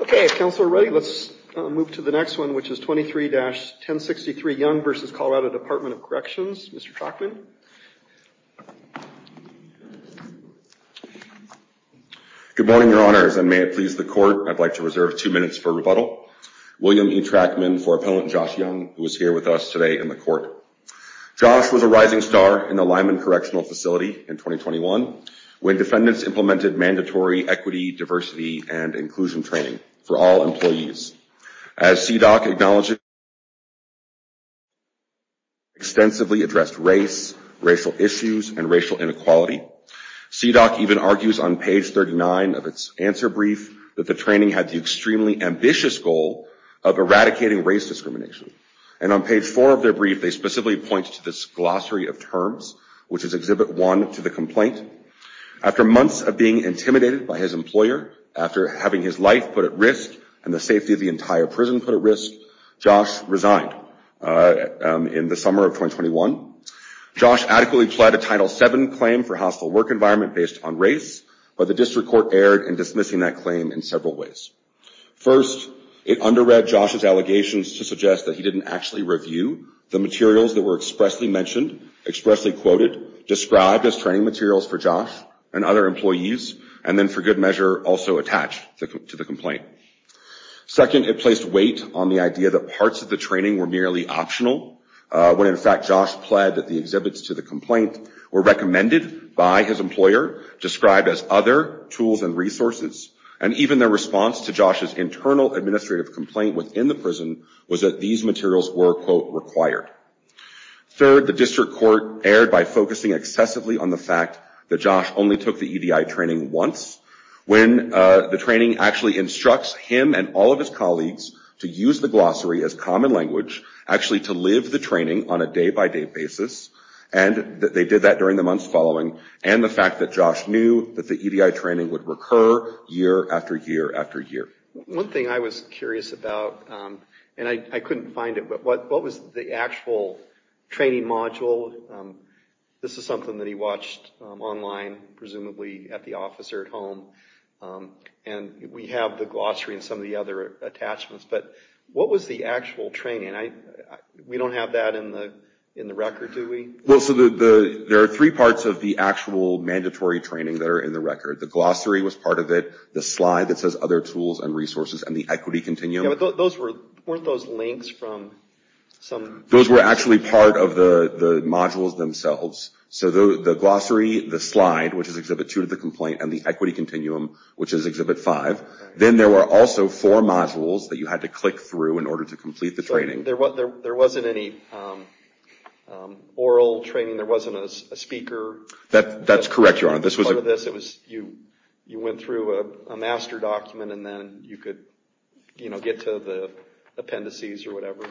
Okay, if Council are ready, let's move to the next one, which is 23-1063 Young v. Colorado Department of Corrections. Mr. Trachman. Good morning, Your Honors, and may it please the Court, I'd like to reserve two minutes for rebuttal. William E. Trachman for Appellant Josh Young, who is here with us today in the Court. Josh was a rising star in the Lyman Correctional Facility in 2021, when defendants implemented mandatory equity, diversity, and inclusion training for all employees. As CDOC acknowledged, extensively addressed race, racial issues, and racial inequality. CDOC even argues on page 39 of its answer brief that the training had the extremely ambitious goal of eradicating race discrimination. And on page 4 of their brief, they specifically point to this glossary of terms, which is Exhibit 1 to the complaint. After months of being intimidated by his employer, after having his life put at risk and the safety of the entire prison put at risk, Josh resigned in the summer of 2021. Josh adequately pled a Title VII claim for hostile work environment based on race, but the District Court erred in dismissing that claim in several ways. First, it under-read Josh's allegations to suggest that he didn't actually review the materials that were expressly mentioned, expressly quoted, described as training materials for Josh and other employees, and then for good measure also attached to the complaint. Second, it placed weight on the idea that parts of the training were merely optional, when in fact Josh pled that the exhibits to the complaint were recommended by his employer, described as other tools and resources. And even their response to Josh's internal administrative complaint within the prison was that these materials were, quote, required. Third, the District Court erred by focusing excessively on the fact that Josh only took the EDI training once, when the training actually instructs him and all of his colleagues to use the glossary as common language, actually to live the training on a day-by-day basis. And they did that during the months following, and the fact that Josh knew that the EDI training would recur year after year after year. One thing I was curious about, and I couldn't find it, but what was the actual training module? This is something that he watched online, presumably at the office or at home, and we have the glossary and some of the other attachments, but what was the actual training? We don't have that in the record, do we? Well, so there are three parts of the actual mandatory training that are in the record. The glossary was part of it, the slide that says other tools and resources, and the equity continuum. Yeah, but weren't those links from some... Those were actually part of the modules themselves. So the glossary, the slide, which is Exhibit 2 to the complaint, and the equity continuum, which is Exhibit 5. Then there were also four modules that you had to click through in order to complete the training. So there wasn't any oral training? There wasn't a speaker? That's correct, Your Honor. You went through a master document, and then you could get to the appendices or whatever?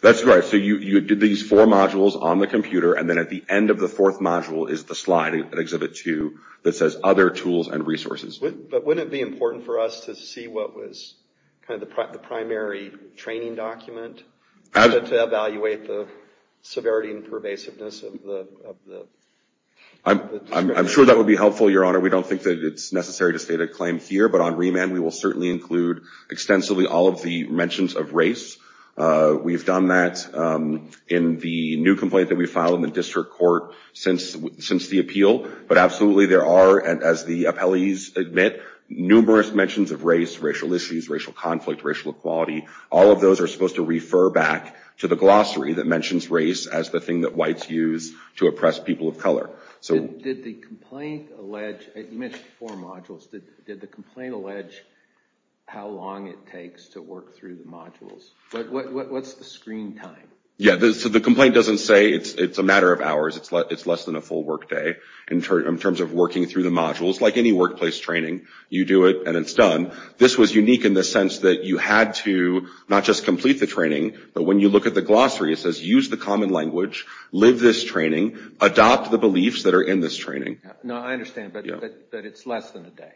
That's right. So you did these four modules on the computer, and then at the end of the fourth module is the slide in Exhibit 2 that says other tools and resources. But wouldn't it be important for us to see what was kind of the primary training document to evaluate the severity and pervasiveness of the... I'm sure that would be helpful, Your Honor. We don't think that it's necessary to state a claim here. But on remand, we will certainly include extensively all of the mentions of race. We've done that in the new complaint that we filed in the district court since the appeal. But absolutely there are, as the appellees admit, numerous mentions of race, racial issues, racial conflict, racial equality. All of those are supposed to refer back to the glossary that mentions race as the thing that whites use to oppress people of color. You mentioned four modules. Did the complaint allege how long it takes to work through the modules? What's the screen time? Yeah, so the complaint doesn't say it's a matter of hours. It's less than a full workday in terms of working through the modules. Like any workplace training, you do it and it's done. This was unique in the sense that you had to not just complete the training, but when you look at the glossary, it says use the common language, live this training, adopt the beliefs that are in this training. No, I understand, but it's less than a day.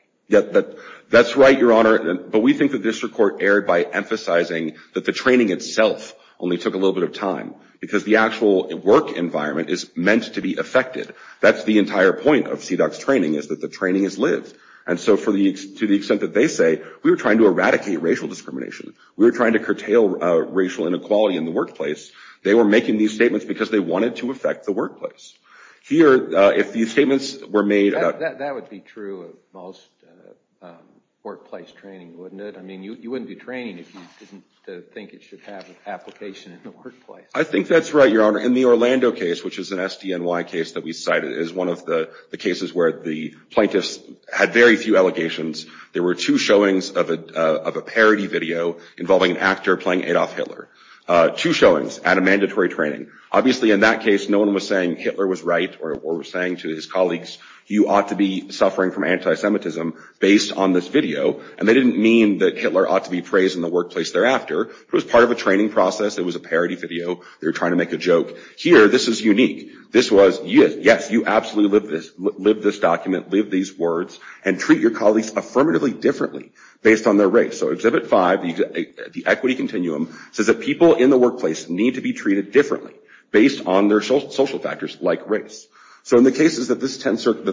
That's right, Your Honor, but we think the district court erred by emphasizing that the training itself only took a little bit of time because the actual work environment is meant to be affected. That's the entire point of CDOCS training is that the training is lived. And so to the extent that they say we were trying to eradicate racial discrimination, we were trying to curtail racial inequality in the workplace, they were making these statements because they wanted to affect the workplace. That would be true of most workplace training, wouldn't it? I mean, you wouldn't do training if you didn't think it should have an application in the workplace. I think that's right, Your Honor. In the Orlando case, which is an SDNY case that we cited, is one of the cases where the plaintiffs had very few allegations. There were two showings of a parody video involving an actor playing Adolf Hitler, two showings at a mandatory training. Obviously, in that case, no one was saying Hitler was right or was saying to his colleagues, you ought to be suffering from anti-Semitism based on this video. And they didn't mean that Hitler ought to be praised in the workplace thereafter. It was part of a training process. It was a parody video. They were trying to make a joke. Here, this is unique. This was, yes, you absolutely live this, live this document, live these words, and treat your colleagues affirmatively differently based on their race. So Exhibit 5, the equity continuum, says that people in the workplace need to be treated differently based on their social factors like race. So in the cases that the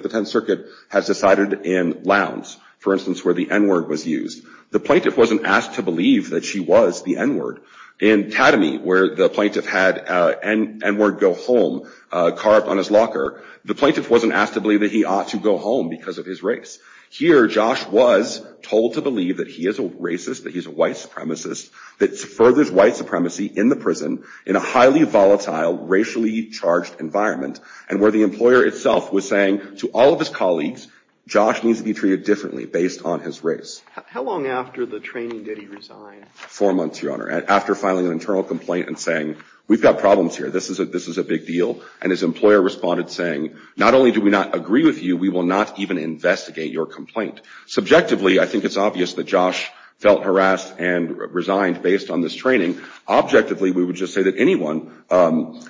Tenth Circuit has decided in Lowndes, for instance, where the N-word was used, the plaintiff wasn't asked to believe that she was the N-word. In Tatamy, where the plaintiff had N-word go home, carved on his locker, the plaintiff wasn't asked to believe that he ought to go home because of his race. Here, Josh was told to believe that he is a racist, that he's a white supremacist, that furthers white supremacy in the prison in a highly volatile, racially charged environment, and where the employer itself was saying to all of his colleagues, Josh needs to be treated differently based on his race. How long after the training did he resign? Four months, Your Honor, after filing an internal complaint and saying, we've got problems here. This is a big deal. And his employer responded saying, not only do we not agree with you, we will not even investigate your complaint. Subjectively, I think it's obvious that Josh felt harassed and resigned based on this training. Objectively, we would just say that anyone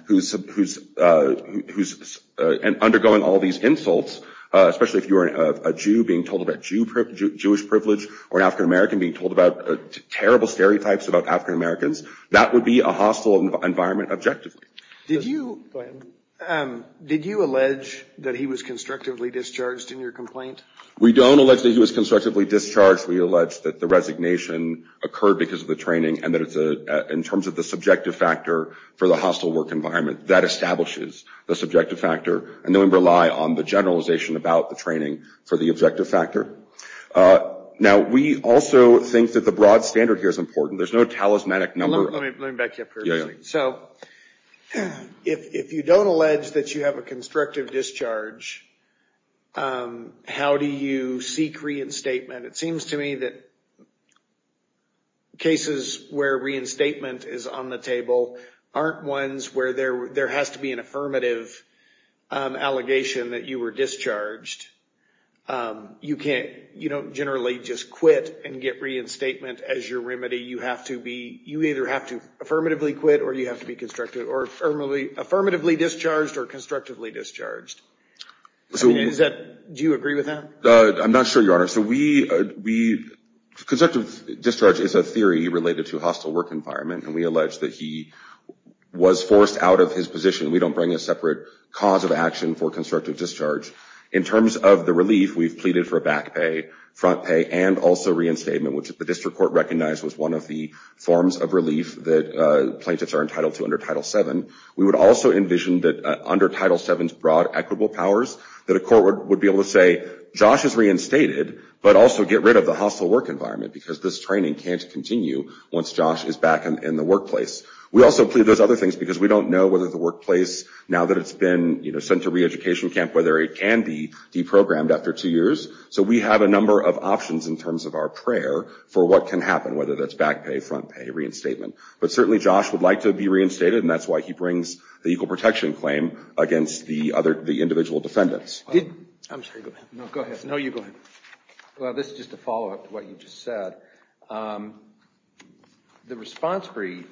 who's undergoing all these insults, especially if you're a Jew being told about Jewish privilege or an African American being told about terrible stereotypes about African Americans, that would be a hostile environment objectively. Go ahead. Did you allege that he was constructively discharged in your complaint? We don't allege that he was constructively discharged. We allege that the resignation occurred because of the training and that in terms of the subjective factor for the hostile work environment, that establishes the subjective factor. And then we rely on the generalization about the training for the objective factor. Now, we also think that the broad standard here is important. There's no talismanic number. Let me back you up here. So, if you don't allege that you have a constructive discharge, how do you seek reinstatement? It seems to me that cases where reinstatement is on the table aren't ones where there has to be an affirmative allegation that you were discharged. You don't generally just quit and get reinstatement as your remedy. You either have to affirmatively quit or you have to be affirmatively discharged or constructively discharged. Do you agree with that? I'm not sure, Your Honor. Constructive discharge is a theory related to hostile work environment, and we allege that he was forced out of his position. We don't bring a separate cause of action for constructive discharge. In terms of the relief, we've pleaded for back pay, front pay, and also reinstatement, which the district court recognized was one of the forms of relief that plaintiffs are entitled to under Title VII. We would also envision that under Title VII's broad equitable powers that a court would be able to say, Josh is reinstated, but also get rid of the hostile work environment because this training can't continue once Josh is back in the workplace. We also plead those other things because we don't know whether the workplace, now that it's been sent to reeducation camp, whether it can be deprogrammed after two years. So we have a number of options in terms of our prayer for what can happen, whether that's back pay, front pay, reinstatement. But certainly Josh would like to be reinstated, and that's why he brings the equal protection claim against the individual defendants. I'm sorry. Go ahead. No, you go ahead. Well, this is just a follow-up to what you just said. The response brief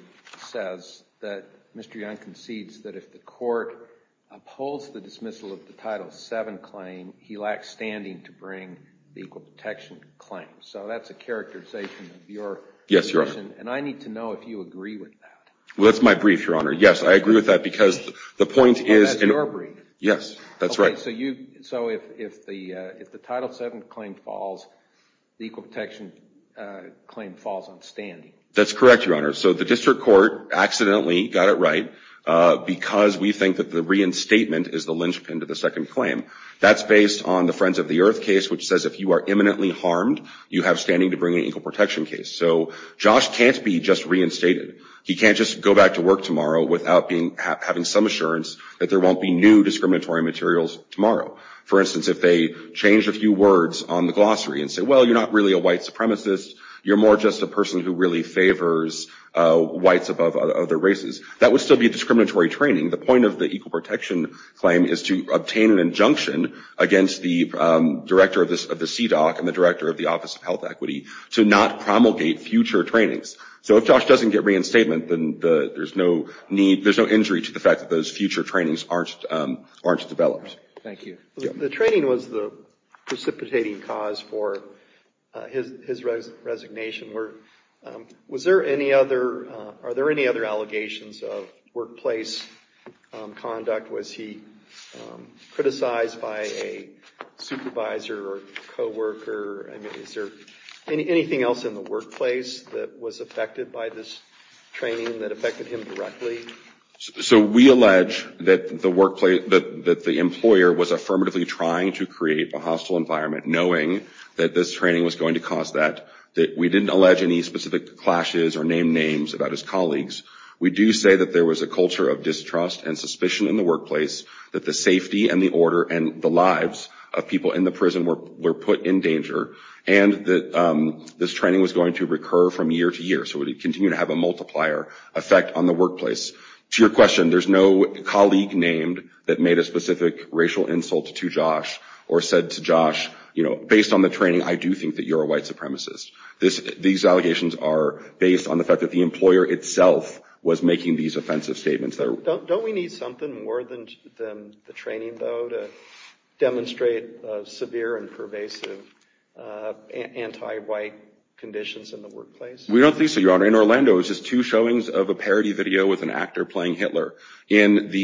says that Mr. Young concedes that if the court upholds the dismissal of the Title VII claim, he lacks standing to bring the equal protection claim. So that's a characterization of your position. Yes, Your Honor. And I need to know if you agree with that. Well, that's my brief, Your Honor. Yes, I agree with that because the point is – Well, that's your brief. Yes, that's right. Okay, so if the Title VII claim falls, the equal protection claim falls on standing. That's correct, Your Honor. So the district court accidentally got it right because we think that the reinstatement is the linchpin to the second claim. That's based on the Friends of the Earth case, which says if you are imminently harmed, you have standing to bring an equal protection case. So Josh can't be just reinstated. He can't just go back to work tomorrow without having some assurance that there won't be new discriminatory materials tomorrow. For instance, if they change a few words on the glossary and say, well, you're not really a white supremacist, you're more just a person who really favors whites above other races, that would still be discriminatory training. The point of the equal protection claim is to obtain an injunction against the director of the CDOC and the director of the Office of Health Equity to not promulgate future trainings. So if Josh doesn't get reinstatement, then there's no injury to the fact that those future trainings aren't developed. Thank you. The training was the precipitating cause for his resignation. Are there any other allegations of workplace conduct? Was he criticized by a supervisor or coworker? I mean, is there anything else in the workplace that was affected by this training that affected him directly? So we allege that the employer was affirmatively trying to create a hostile environment, knowing that this training was going to cause that, that we didn't allege any specific clashes or name names about his colleagues. We do say that there was a culture of distrust and suspicion in the workplace, that the safety and the order and the lives of people in the prison were put in danger, and that this training was going to recur from year to year, so it would continue to have a multiplier effect on the workplace. To your question, there's no colleague named that made a specific racial insult to Josh or said to Josh, you know, based on the training, I do think that you're a white supremacist. These allegations are based on the fact that the employer itself was making these offensive statements. Don't we need something more than the training, though, to demonstrate severe and pervasive anti-white conditions in the workplace? We don't think so, Your Honor. In Orlando, it was just two showings of a parody video with an actor playing Hitler. In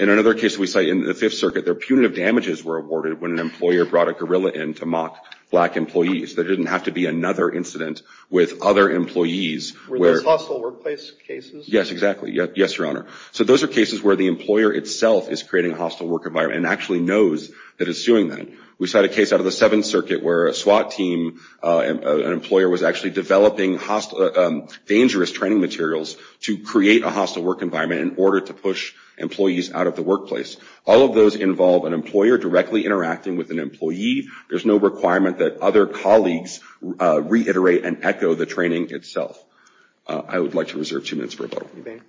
another case we cite in the Fifth Circuit, their punitive damages were awarded when an employer brought a gorilla in to mock black employees. There didn't have to be another incident with other employees. Were those hostile workplace cases? Yes, exactly. Yes, Your Honor. So those are cases where the employer itself is creating a hostile work environment and actually knows that it's doing that. We cite a case out of the Seventh Circuit where a SWAT team, an employer was actually developing dangerous training materials to create a hostile work environment in order to push employees out of the workplace. All of those involve an employer directly interacting with an employee. There's no requirement that other colleagues reiterate and echo the training itself. I would like to reserve two minutes for rebuttal. You may begin.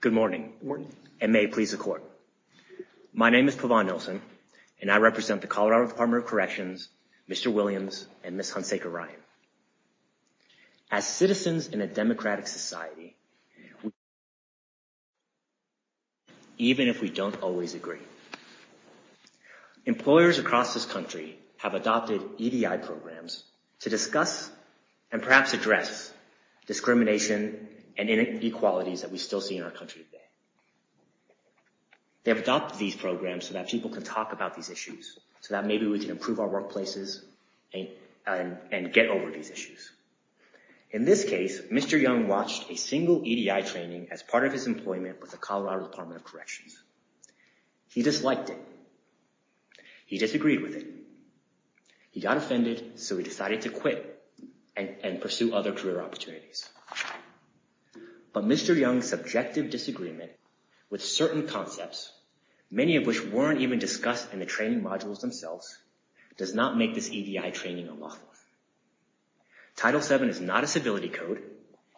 Good morning, and may it please the Court. My name is Pavan Nelson, and I represent the Colorado Department of Corrections, Mr. Williams, and Ms. Hunsaker Ryan. As citizens in a democratic society, even if we don't always agree. Employers across this country have adopted EDI programs to discuss and perhaps address discrimination and inequalities that we still see in our country today. They've adopted these programs so that people can talk about these issues, so that maybe we can improve our workplaces and get over these issues. In this case, Mr. Young watched a single EDI training as part of his employment with the Colorado Department of Corrections. He disliked it. He disagreed with it. He got offended, so he decided to quit and pursue other career opportunities. But Mr. Young's subjective disagreement with certain concepts, many of which weren't even discussed in the training modules themselves, does not make this EDI training unlawful. Title VII is not a civility code,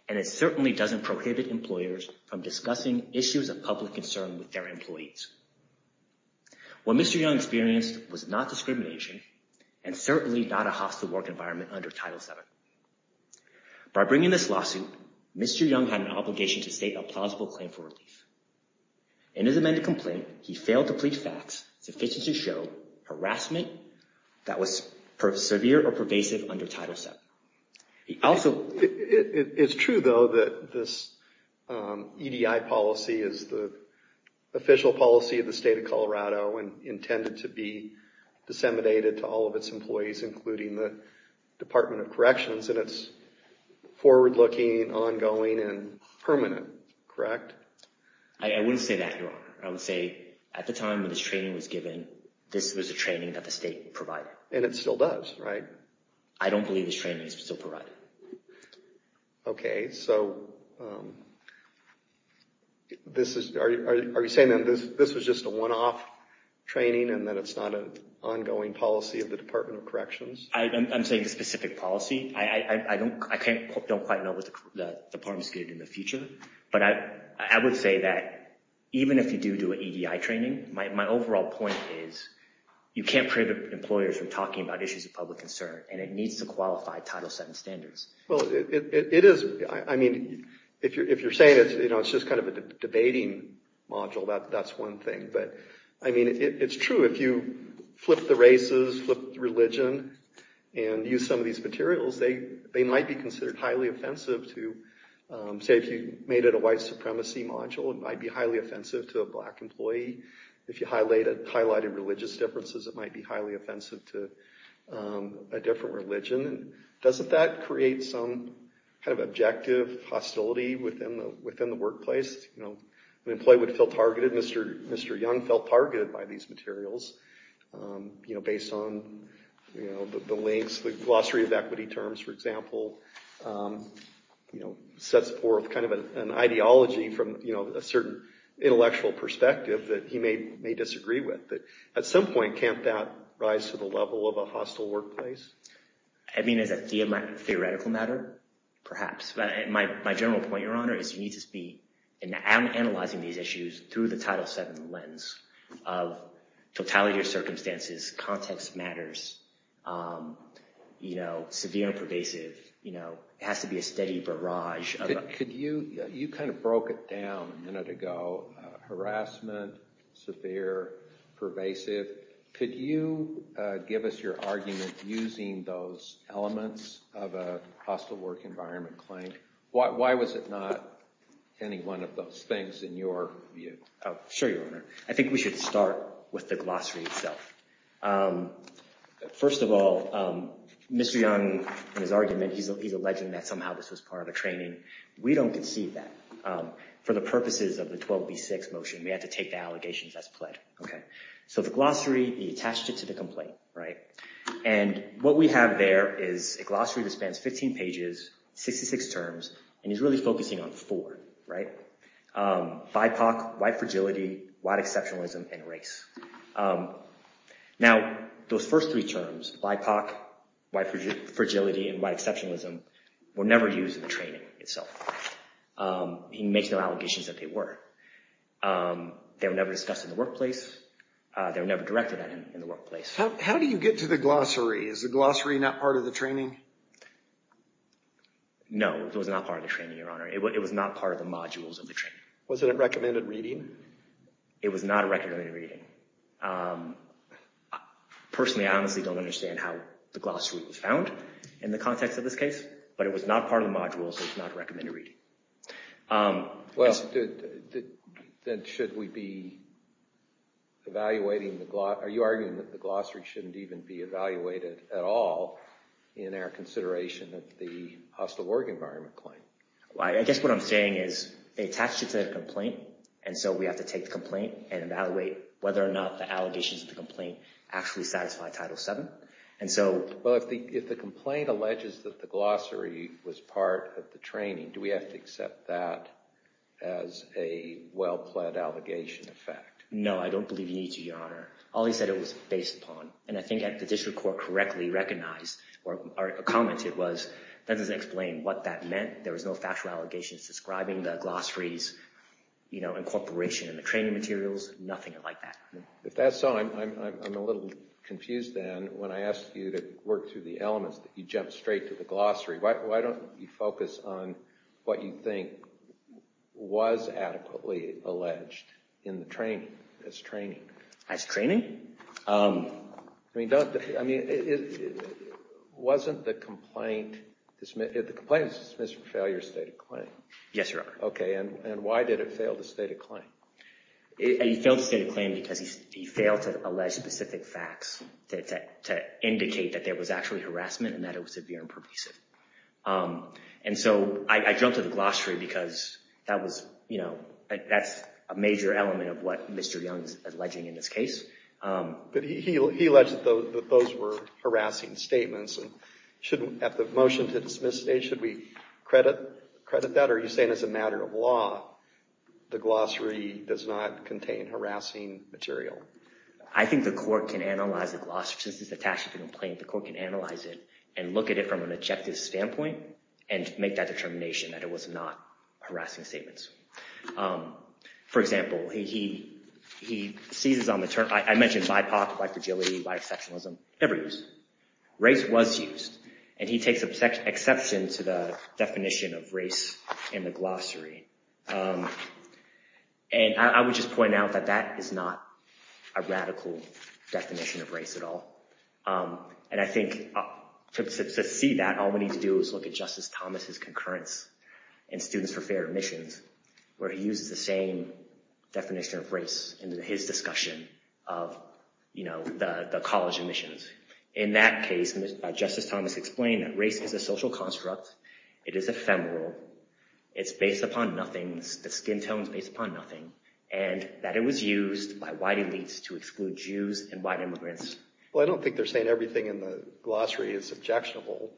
and it certainly doesn't prohibit employers from discussing issues of public concern with their employees. What Mr. Young experienced was not discrimination and certainly not a hostile work environment under Title VII. By bringing this lawsuit, Mr. Young had an obligation to state a plausible claim for relief. In his amended complaint, he failed to plead facts sufficient to show harassment that was severe or pervasive under Title VII. It's true, though, that this EDI policy is the official policy of the state of Colorado and intended to be disseminated to all of its employees, including the Department of Corrections, and it's forward-looking, ongoing, and permanent, correct? I wouldn't say that, Your Honor. I would say at the time when this training was given, this was a training that the state provided. And it still does, right? I don't believe this training is still provided. Okay, so are you saying then this was just a one-off training and that it's not an ongoing policy of the Department of Corrections? I'm saying a specific policy. I don't quite know what the Department is going to do in the future, but I would say that even if you do do an EDI training, my overall point is you can't prevent employers from talking about issues of public concern, and it needs to qualify Title VII standards. Well, it is. I mean, if you're saying it's just kind of a debating module, that's one thing. But, I mean, it's true if you flip the races, flip the religion, and use some of these materials, they might be considered highly offensive to, say if you made it a white supremacy module, it might be highly offensive to a black employee. If you highlighted religious differences, it might be highly offensive to a different religion. Doesn't that create some kind of objective hostility within the workplace? An employee would feel targeted. Mr. Young felt targeted by these materials based on the links, the glossary of equity terms, for example, sets forth kind of an ideology from a certain intellectual perspective that he may disagree with. At some point, can't that rise to the level of a hostile workplace? I mean, as a theoretical matter, perhaps. My general point, Your Honor, is you need to be analyzing these issues through the Title VII lens of totality of circumstances, context matters, severe and pervasive. It has to be a steady barrage. You kind of broke it down a minute ago. Harassment, severe, pervasive. Could you give us your argument using those elements of a hostile work environment claim? Why was it not any one of those things in your view? Sure, Your Honor. I think we should start with the glossary itself. First of all, Mr. Young, in his argument, he's alleging that somehow this was part of a training. We don't concede that. For the purposes of the 12B6 motion, we had to take the allegations as pled. So the glossary, he attached it to the complaint. And what we have there is a glossary that spans 15 pages, 66 terms, and he's really focusing on four. BIPOC, white fragility, white exceptionalism, and race. Now, those first three terms, BIPOC, white fragility, and white exceptionalism, were never used in the training itself. He makes no allegations that they were. They were never discussed in the workplace. They were never directed at in the workplace. How do you get to the glossary? Is the glossary not part of the training? No, it was not part of the training, Your Honor. It was not part of the modules of the training. Was it a recommended reading? It was not a recommended reading. Personally, I honestly don't understand how the glossary was found in the context of this case. But it was not part of the module, so it's not a recommended reading. Well, then should we be evaluating the glossary? Are you arguing that the glossary shouldn't even be evaluated at all in our consideration of the hostile work environment claim? I guess what I'm saying is they attached it to the complaint, and so we have to take the complaint and evaluate whether or not the allegations of the complaint actually satisfy Title VII. Well, if the complaint alleges that the glossary was part of the training, do we have to accept that as a well-pledged allegation of fact? No, I don't believe you need to, Your Honor. All he said it was based upon, and I think the district court correctly recognized or commented was that doesn't explain what that meant. There was no factual allegations describing the glossary's incorporation in the training materials. Nothing like that. If that's so, I'm a little confused, then, when I ask you to work through the elements, that you jump straight to the glossary. Why don't you focus on what you think was adequately alleged in the training, as training? As training? I mean, wasn't the complaint dismissed for failure of state of claim? Yes, Your Honor. Okay, and why did it fail the state of claim? It failed the state of claim because he failed to allege specific facts to indicate that there was actually harassment and that it was severe and pervasive. And so I jumped to the glossary because that was, you know, that's a major element of what Mr. Young is alleging in this case. But he alleged that those were harassing statements. At the motion to dismiss, should we credit that? Are you saying as a matter of law, the glossary does not contain harassing material? I think the court can analyze the glossary. Since it's attached to the complaint, the court can analyze it and look at it from an objective standpoint and make that determination that it was not harassing statements. For example, he seizes on the term. I mentioned BIPOC, bisexualism, every use. Race was used, and he takes exception to the definition of race in the glossary. And I would just point out that that is not a radical definition of race at all. And I think to see that, all we need to do is look at Justice Thomas's concurrence in Students for Fair Admissions where he uses the same definition of race in his discussion of the college admissions. In that case, Justice Thomas explained that race is a social construct. It is ephemeral. It's based upon nothing. The skin tone is based upon nothing. And that it was used by white elites to exclude Jews and white immigrants. Well, I don't think they're saying everything in the glossary is objectionable.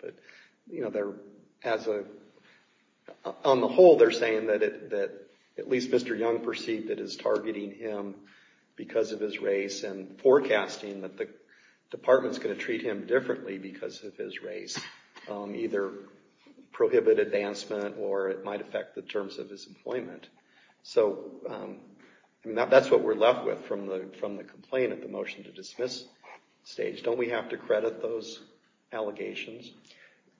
On the whole, they're saying that at least Mr. Young perceived it as targeting him because of his race and forecasting that the department's going to treat him differently because of his race. Either prohibit advancement or it might affect the terms of his employment. So that's what we're left with from the complainant, the motion to dismiss stage. Don't we have to credit those allegations?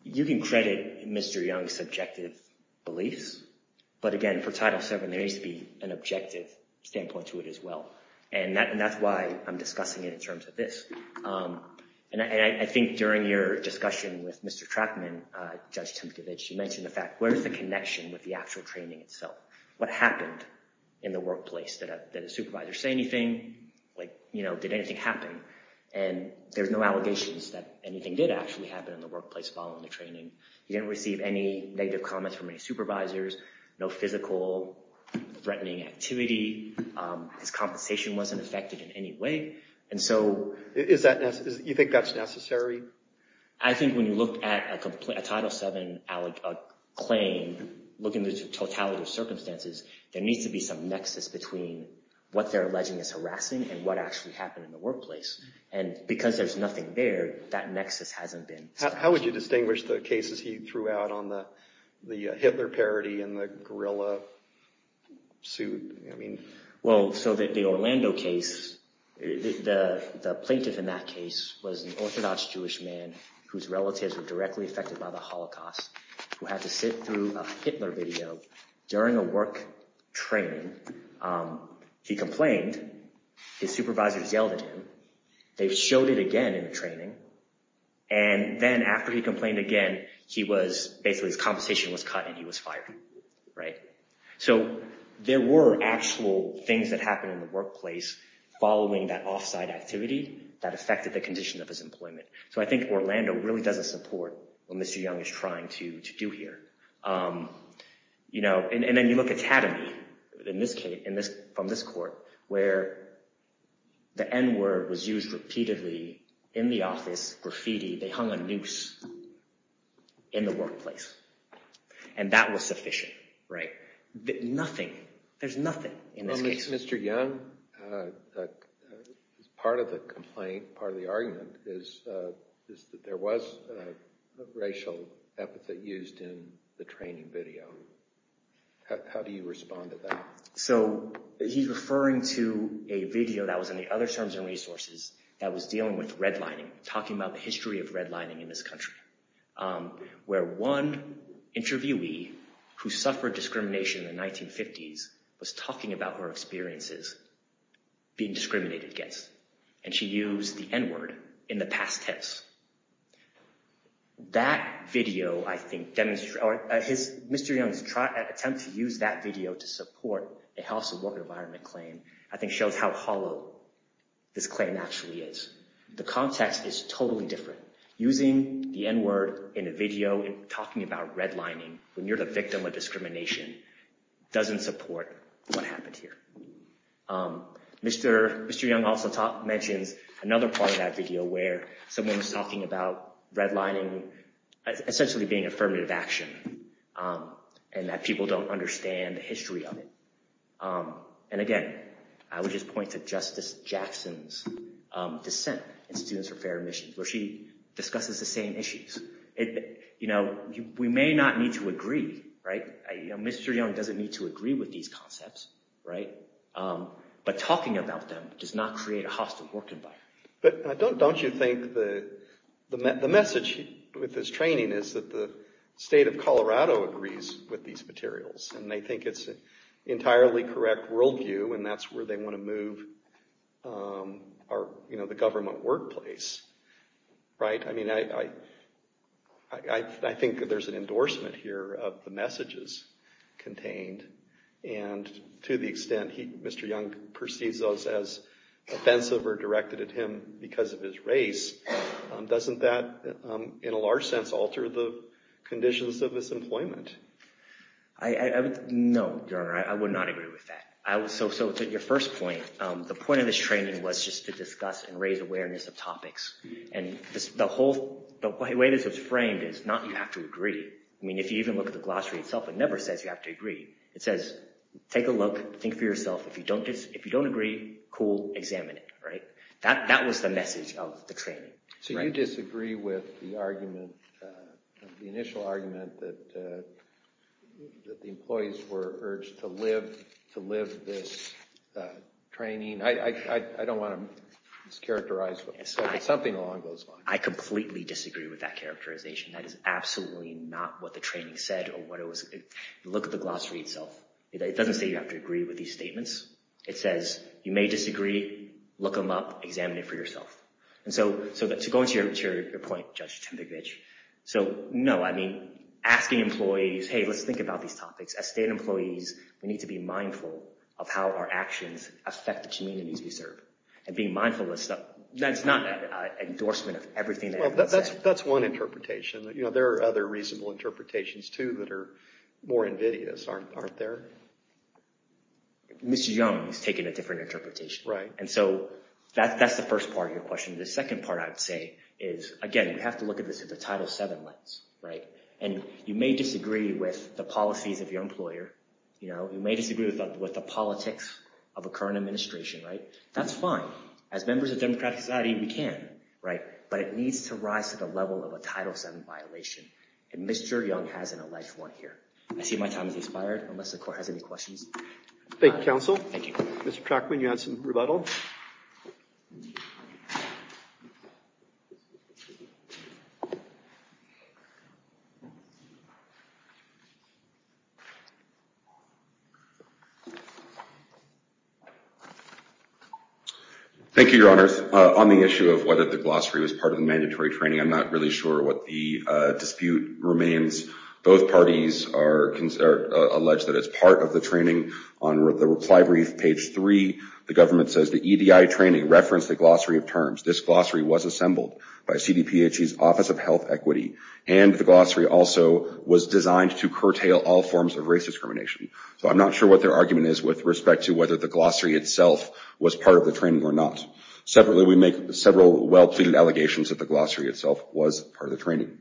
You can credit Mr. Young's subjective beliefs. But again, for Title VII, there needs to be an objective standpoint to it as well. And that's why I'm discussing it in terms of this. And I think during your discussion with Mr. Trackman, Judge Timkevich, you mentioned the fact, where's the connection with the actual training itself? What happened in the workplace? Did a supervisor say anything? Did anything happen? And there's no allegations that anything did actually happen in the workplace following the training. He didn't receive any negative comments from any supervisors, no physical threatening activity. His compensation wasn't affected in any way. And so you think that's necessary? I think when you look at a Title VII claim, looking at the totality of circumstances, there needs to be some nexus between what they're alleging is harassing and what actually happened in the workplace. And because there's nothing there, that nexus hasn't been established. How would you distinguish the cases he threw out on the Hitler parody and the guerrilla suit? Well, so the Orlando case, the plaintiff in that case was an Orthodox Jewish man whose relatives were directly affected by the Holocaust, who had to sit through a Hitler video during a work training. He complained. His supervisors yelled at him. They showed it again in the training. And then after he complained again, basically his compensation was cut and he was fired. So there were actual things that happened in the workplace following that off-site activity that affected the condition of his employment. So I think Orlando really doesn't support what Mr. Young is trying to do here. And then you look at Tatamy from this court, where the N-word was used repeatedly in the office, graffiti. They hung a noose in the workplace. And that was sufficient, right? Nothing. There's nothing in this case. Well, Mr. Young, part of the complaint, part of the argument, is that there was a racial epithet used in the training video. How do you respond to that? So he's referring to a video that was in the other terms and resources that was dealing with redlining, talking about the history of redlining in this country, where one interviewee who suffered discrimination in the 1950s was talking about her experiences being discriminated against. And she used the N-word in the past test. That video, I think, Mr. Young's attempt to use that video to support a health and work environment claim, I think shows how hollow this claim actually is. The context is totally different. Using the N-word in a video, talking about redlining, when you're the victim of discrimination, doesn't support what happened here. Mr. Young also mentions another part of that video where someone was talking about redlining essentially being affirmative action, and that people don't understand the history of it. And again, I would just point to Justice Jackson's dissent in Students for Fair Admissions, where she discusses the same issues. We may not need to agree, right? Mr. Young doesn't need to agree with these concepts, right? But talking about them does not create a hostile work environment. But don't you think the message with this training is that the state of Colorado agrees with these materials, and they think it's an entirely correct worldview, and that's where they want to move the government workplace, right? I mean, I think that there's an endorsement here of the messages contained. And to the extent Mr. Young perceives those as offensive or directed at him because of his race, doesn't that in a large sense alter the conditions of his employment? No, Your Honor, I would not agree with that. So to your first point, the point of this training was just to discuss and raise awareness of topics. And the way this was framed is not you have to agree. I mean, if you even look at the glossary itself, it never says you have to agree. It says take a look, think for yourself. If you don't agree, cool, examine it, right? That was the message of the training. So you disagree with the argument, the initial argument, that the employees were urged to live this training? I don't want to mischaracterize. Something along those lines. I completely disagree with that characterization. That is absolutely not what the training said or what it was. Look at the glossary itself. It doesn't say you have to agree with these statements. It says you may disagree. Look them up. Examine it for yourself. And so to go into your point, Judge Tempevich, so no, I mean, asking employees, hey, let's think about these topics. As state employees, we need to be mindful of how our actions affect the communities we serve. And being mindful of stuff, that's not an endorsement of everything. Well, that's one interpretation. There are other reasonable interpretations, too, that are more invidious, aren't there? Mr. Young has taken a different interpretation. Right. And so that's the first part of your question. The second part, I'd say, is, again, we have to look at this with a Title VII lens, right? And you may disagree with the policies of your employer. You may disagree with the politics of a current administration, right? That's fine. As members of democratic society, we can, right? But it needs to rise to the level of a Title VII violation. And Mr. Young has an alleged one here. I see my time has expired, unless the Court has any questions. Thank you, Counsel. Thank you. Mr. Trachman, you had some rebuttals. Thank you, Your Honors. On the issue of whether the glossary was part of the mandatory training, I'm not really sure what the dispute remains. Both parties are alleged that it's part of the training. On the reply brief, page 3, the government says, the EDI training referenced the glossary of terms. This glossary was assembled by CDPHE's Office of Health Equity, and the glossary also was designed to curtail all forms of race discrimination. So I'm not sure what their argument is with respect to whether the glossary itself was part of the training or not. Separately, we make several well-pleaded allegations that the glossary itself was part of the training.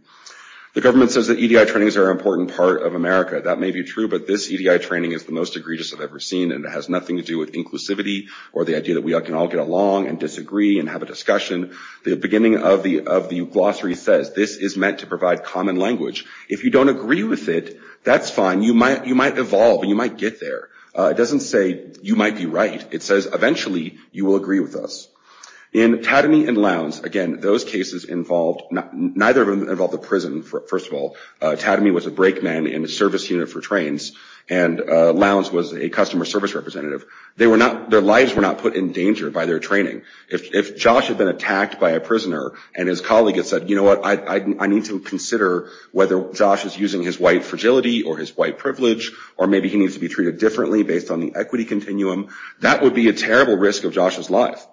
The government says that EDI trainings are an important part of America. That may be true, but this EDI training is the most egregious I've ever seen, and it has nothing to do with inclusivity or the idea that we can all get along and disagree and have a discussion. The beginning of the glossary says this is meant to provide common language. If you don't agree with it, that's fine. You might evolve, and you might get there. It doesn't say you might be right. It says eventually you will agree with us. In Tadamy and Lowndes, again, those cases involved – neither of them involved a prison, first of all. Tadamy was a brake man in a service unit for trains, and Lowndes was a customer service representative. Their lives were not put in danger by their training. If Josh had been attacked by a prisoner and his colleague had said, you know what, I need to consider whether Josh is using his white fragility or his white privilege, or maybe he needs to be treated differently based on the equity continuum, that would be a terrible risk of Josh's life.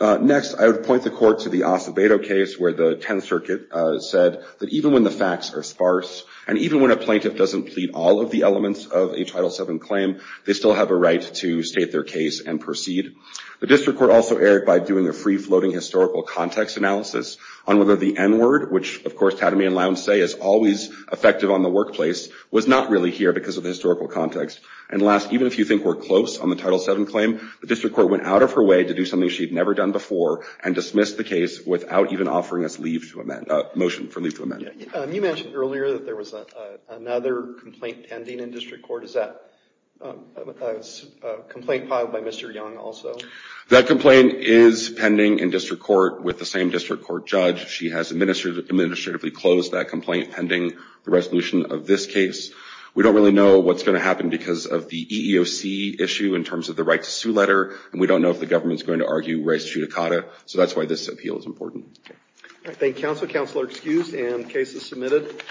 Next, I would point the court to the Acevedo case where the Tenth Circuit said that even when the facts are sparse and even when a plaintiff doesn't plead all of the elements of a Title VII claim, they still have a right to state their case and proceed. The district court also erred by doing a free-floating historical context analysis on whether the N-word, which, of course, Tadamy and Lowndes say is always effective on the workplace, was not really here because of the historical context. And last, even if you think we're close on the Title VII claim, the district court went out of her way to do something she had never done before and dismissed the case without even offering us a motion for leave to amend. You mentioned earlier that there was another complaint pending in district court. Is that a complaint filed by Mr. Young also? That complaint is pending in district court with the same district court judge. She has administratively closed that complaint pending the resolution of this case. We don't really know what's going to happen because of the EEOC issue in terms of the right-to-sue letter, and we don't know if the government is going to argue res judicata, so that's why this appeal is important. I thank counsel. Counsel are excused, and the case is submitted.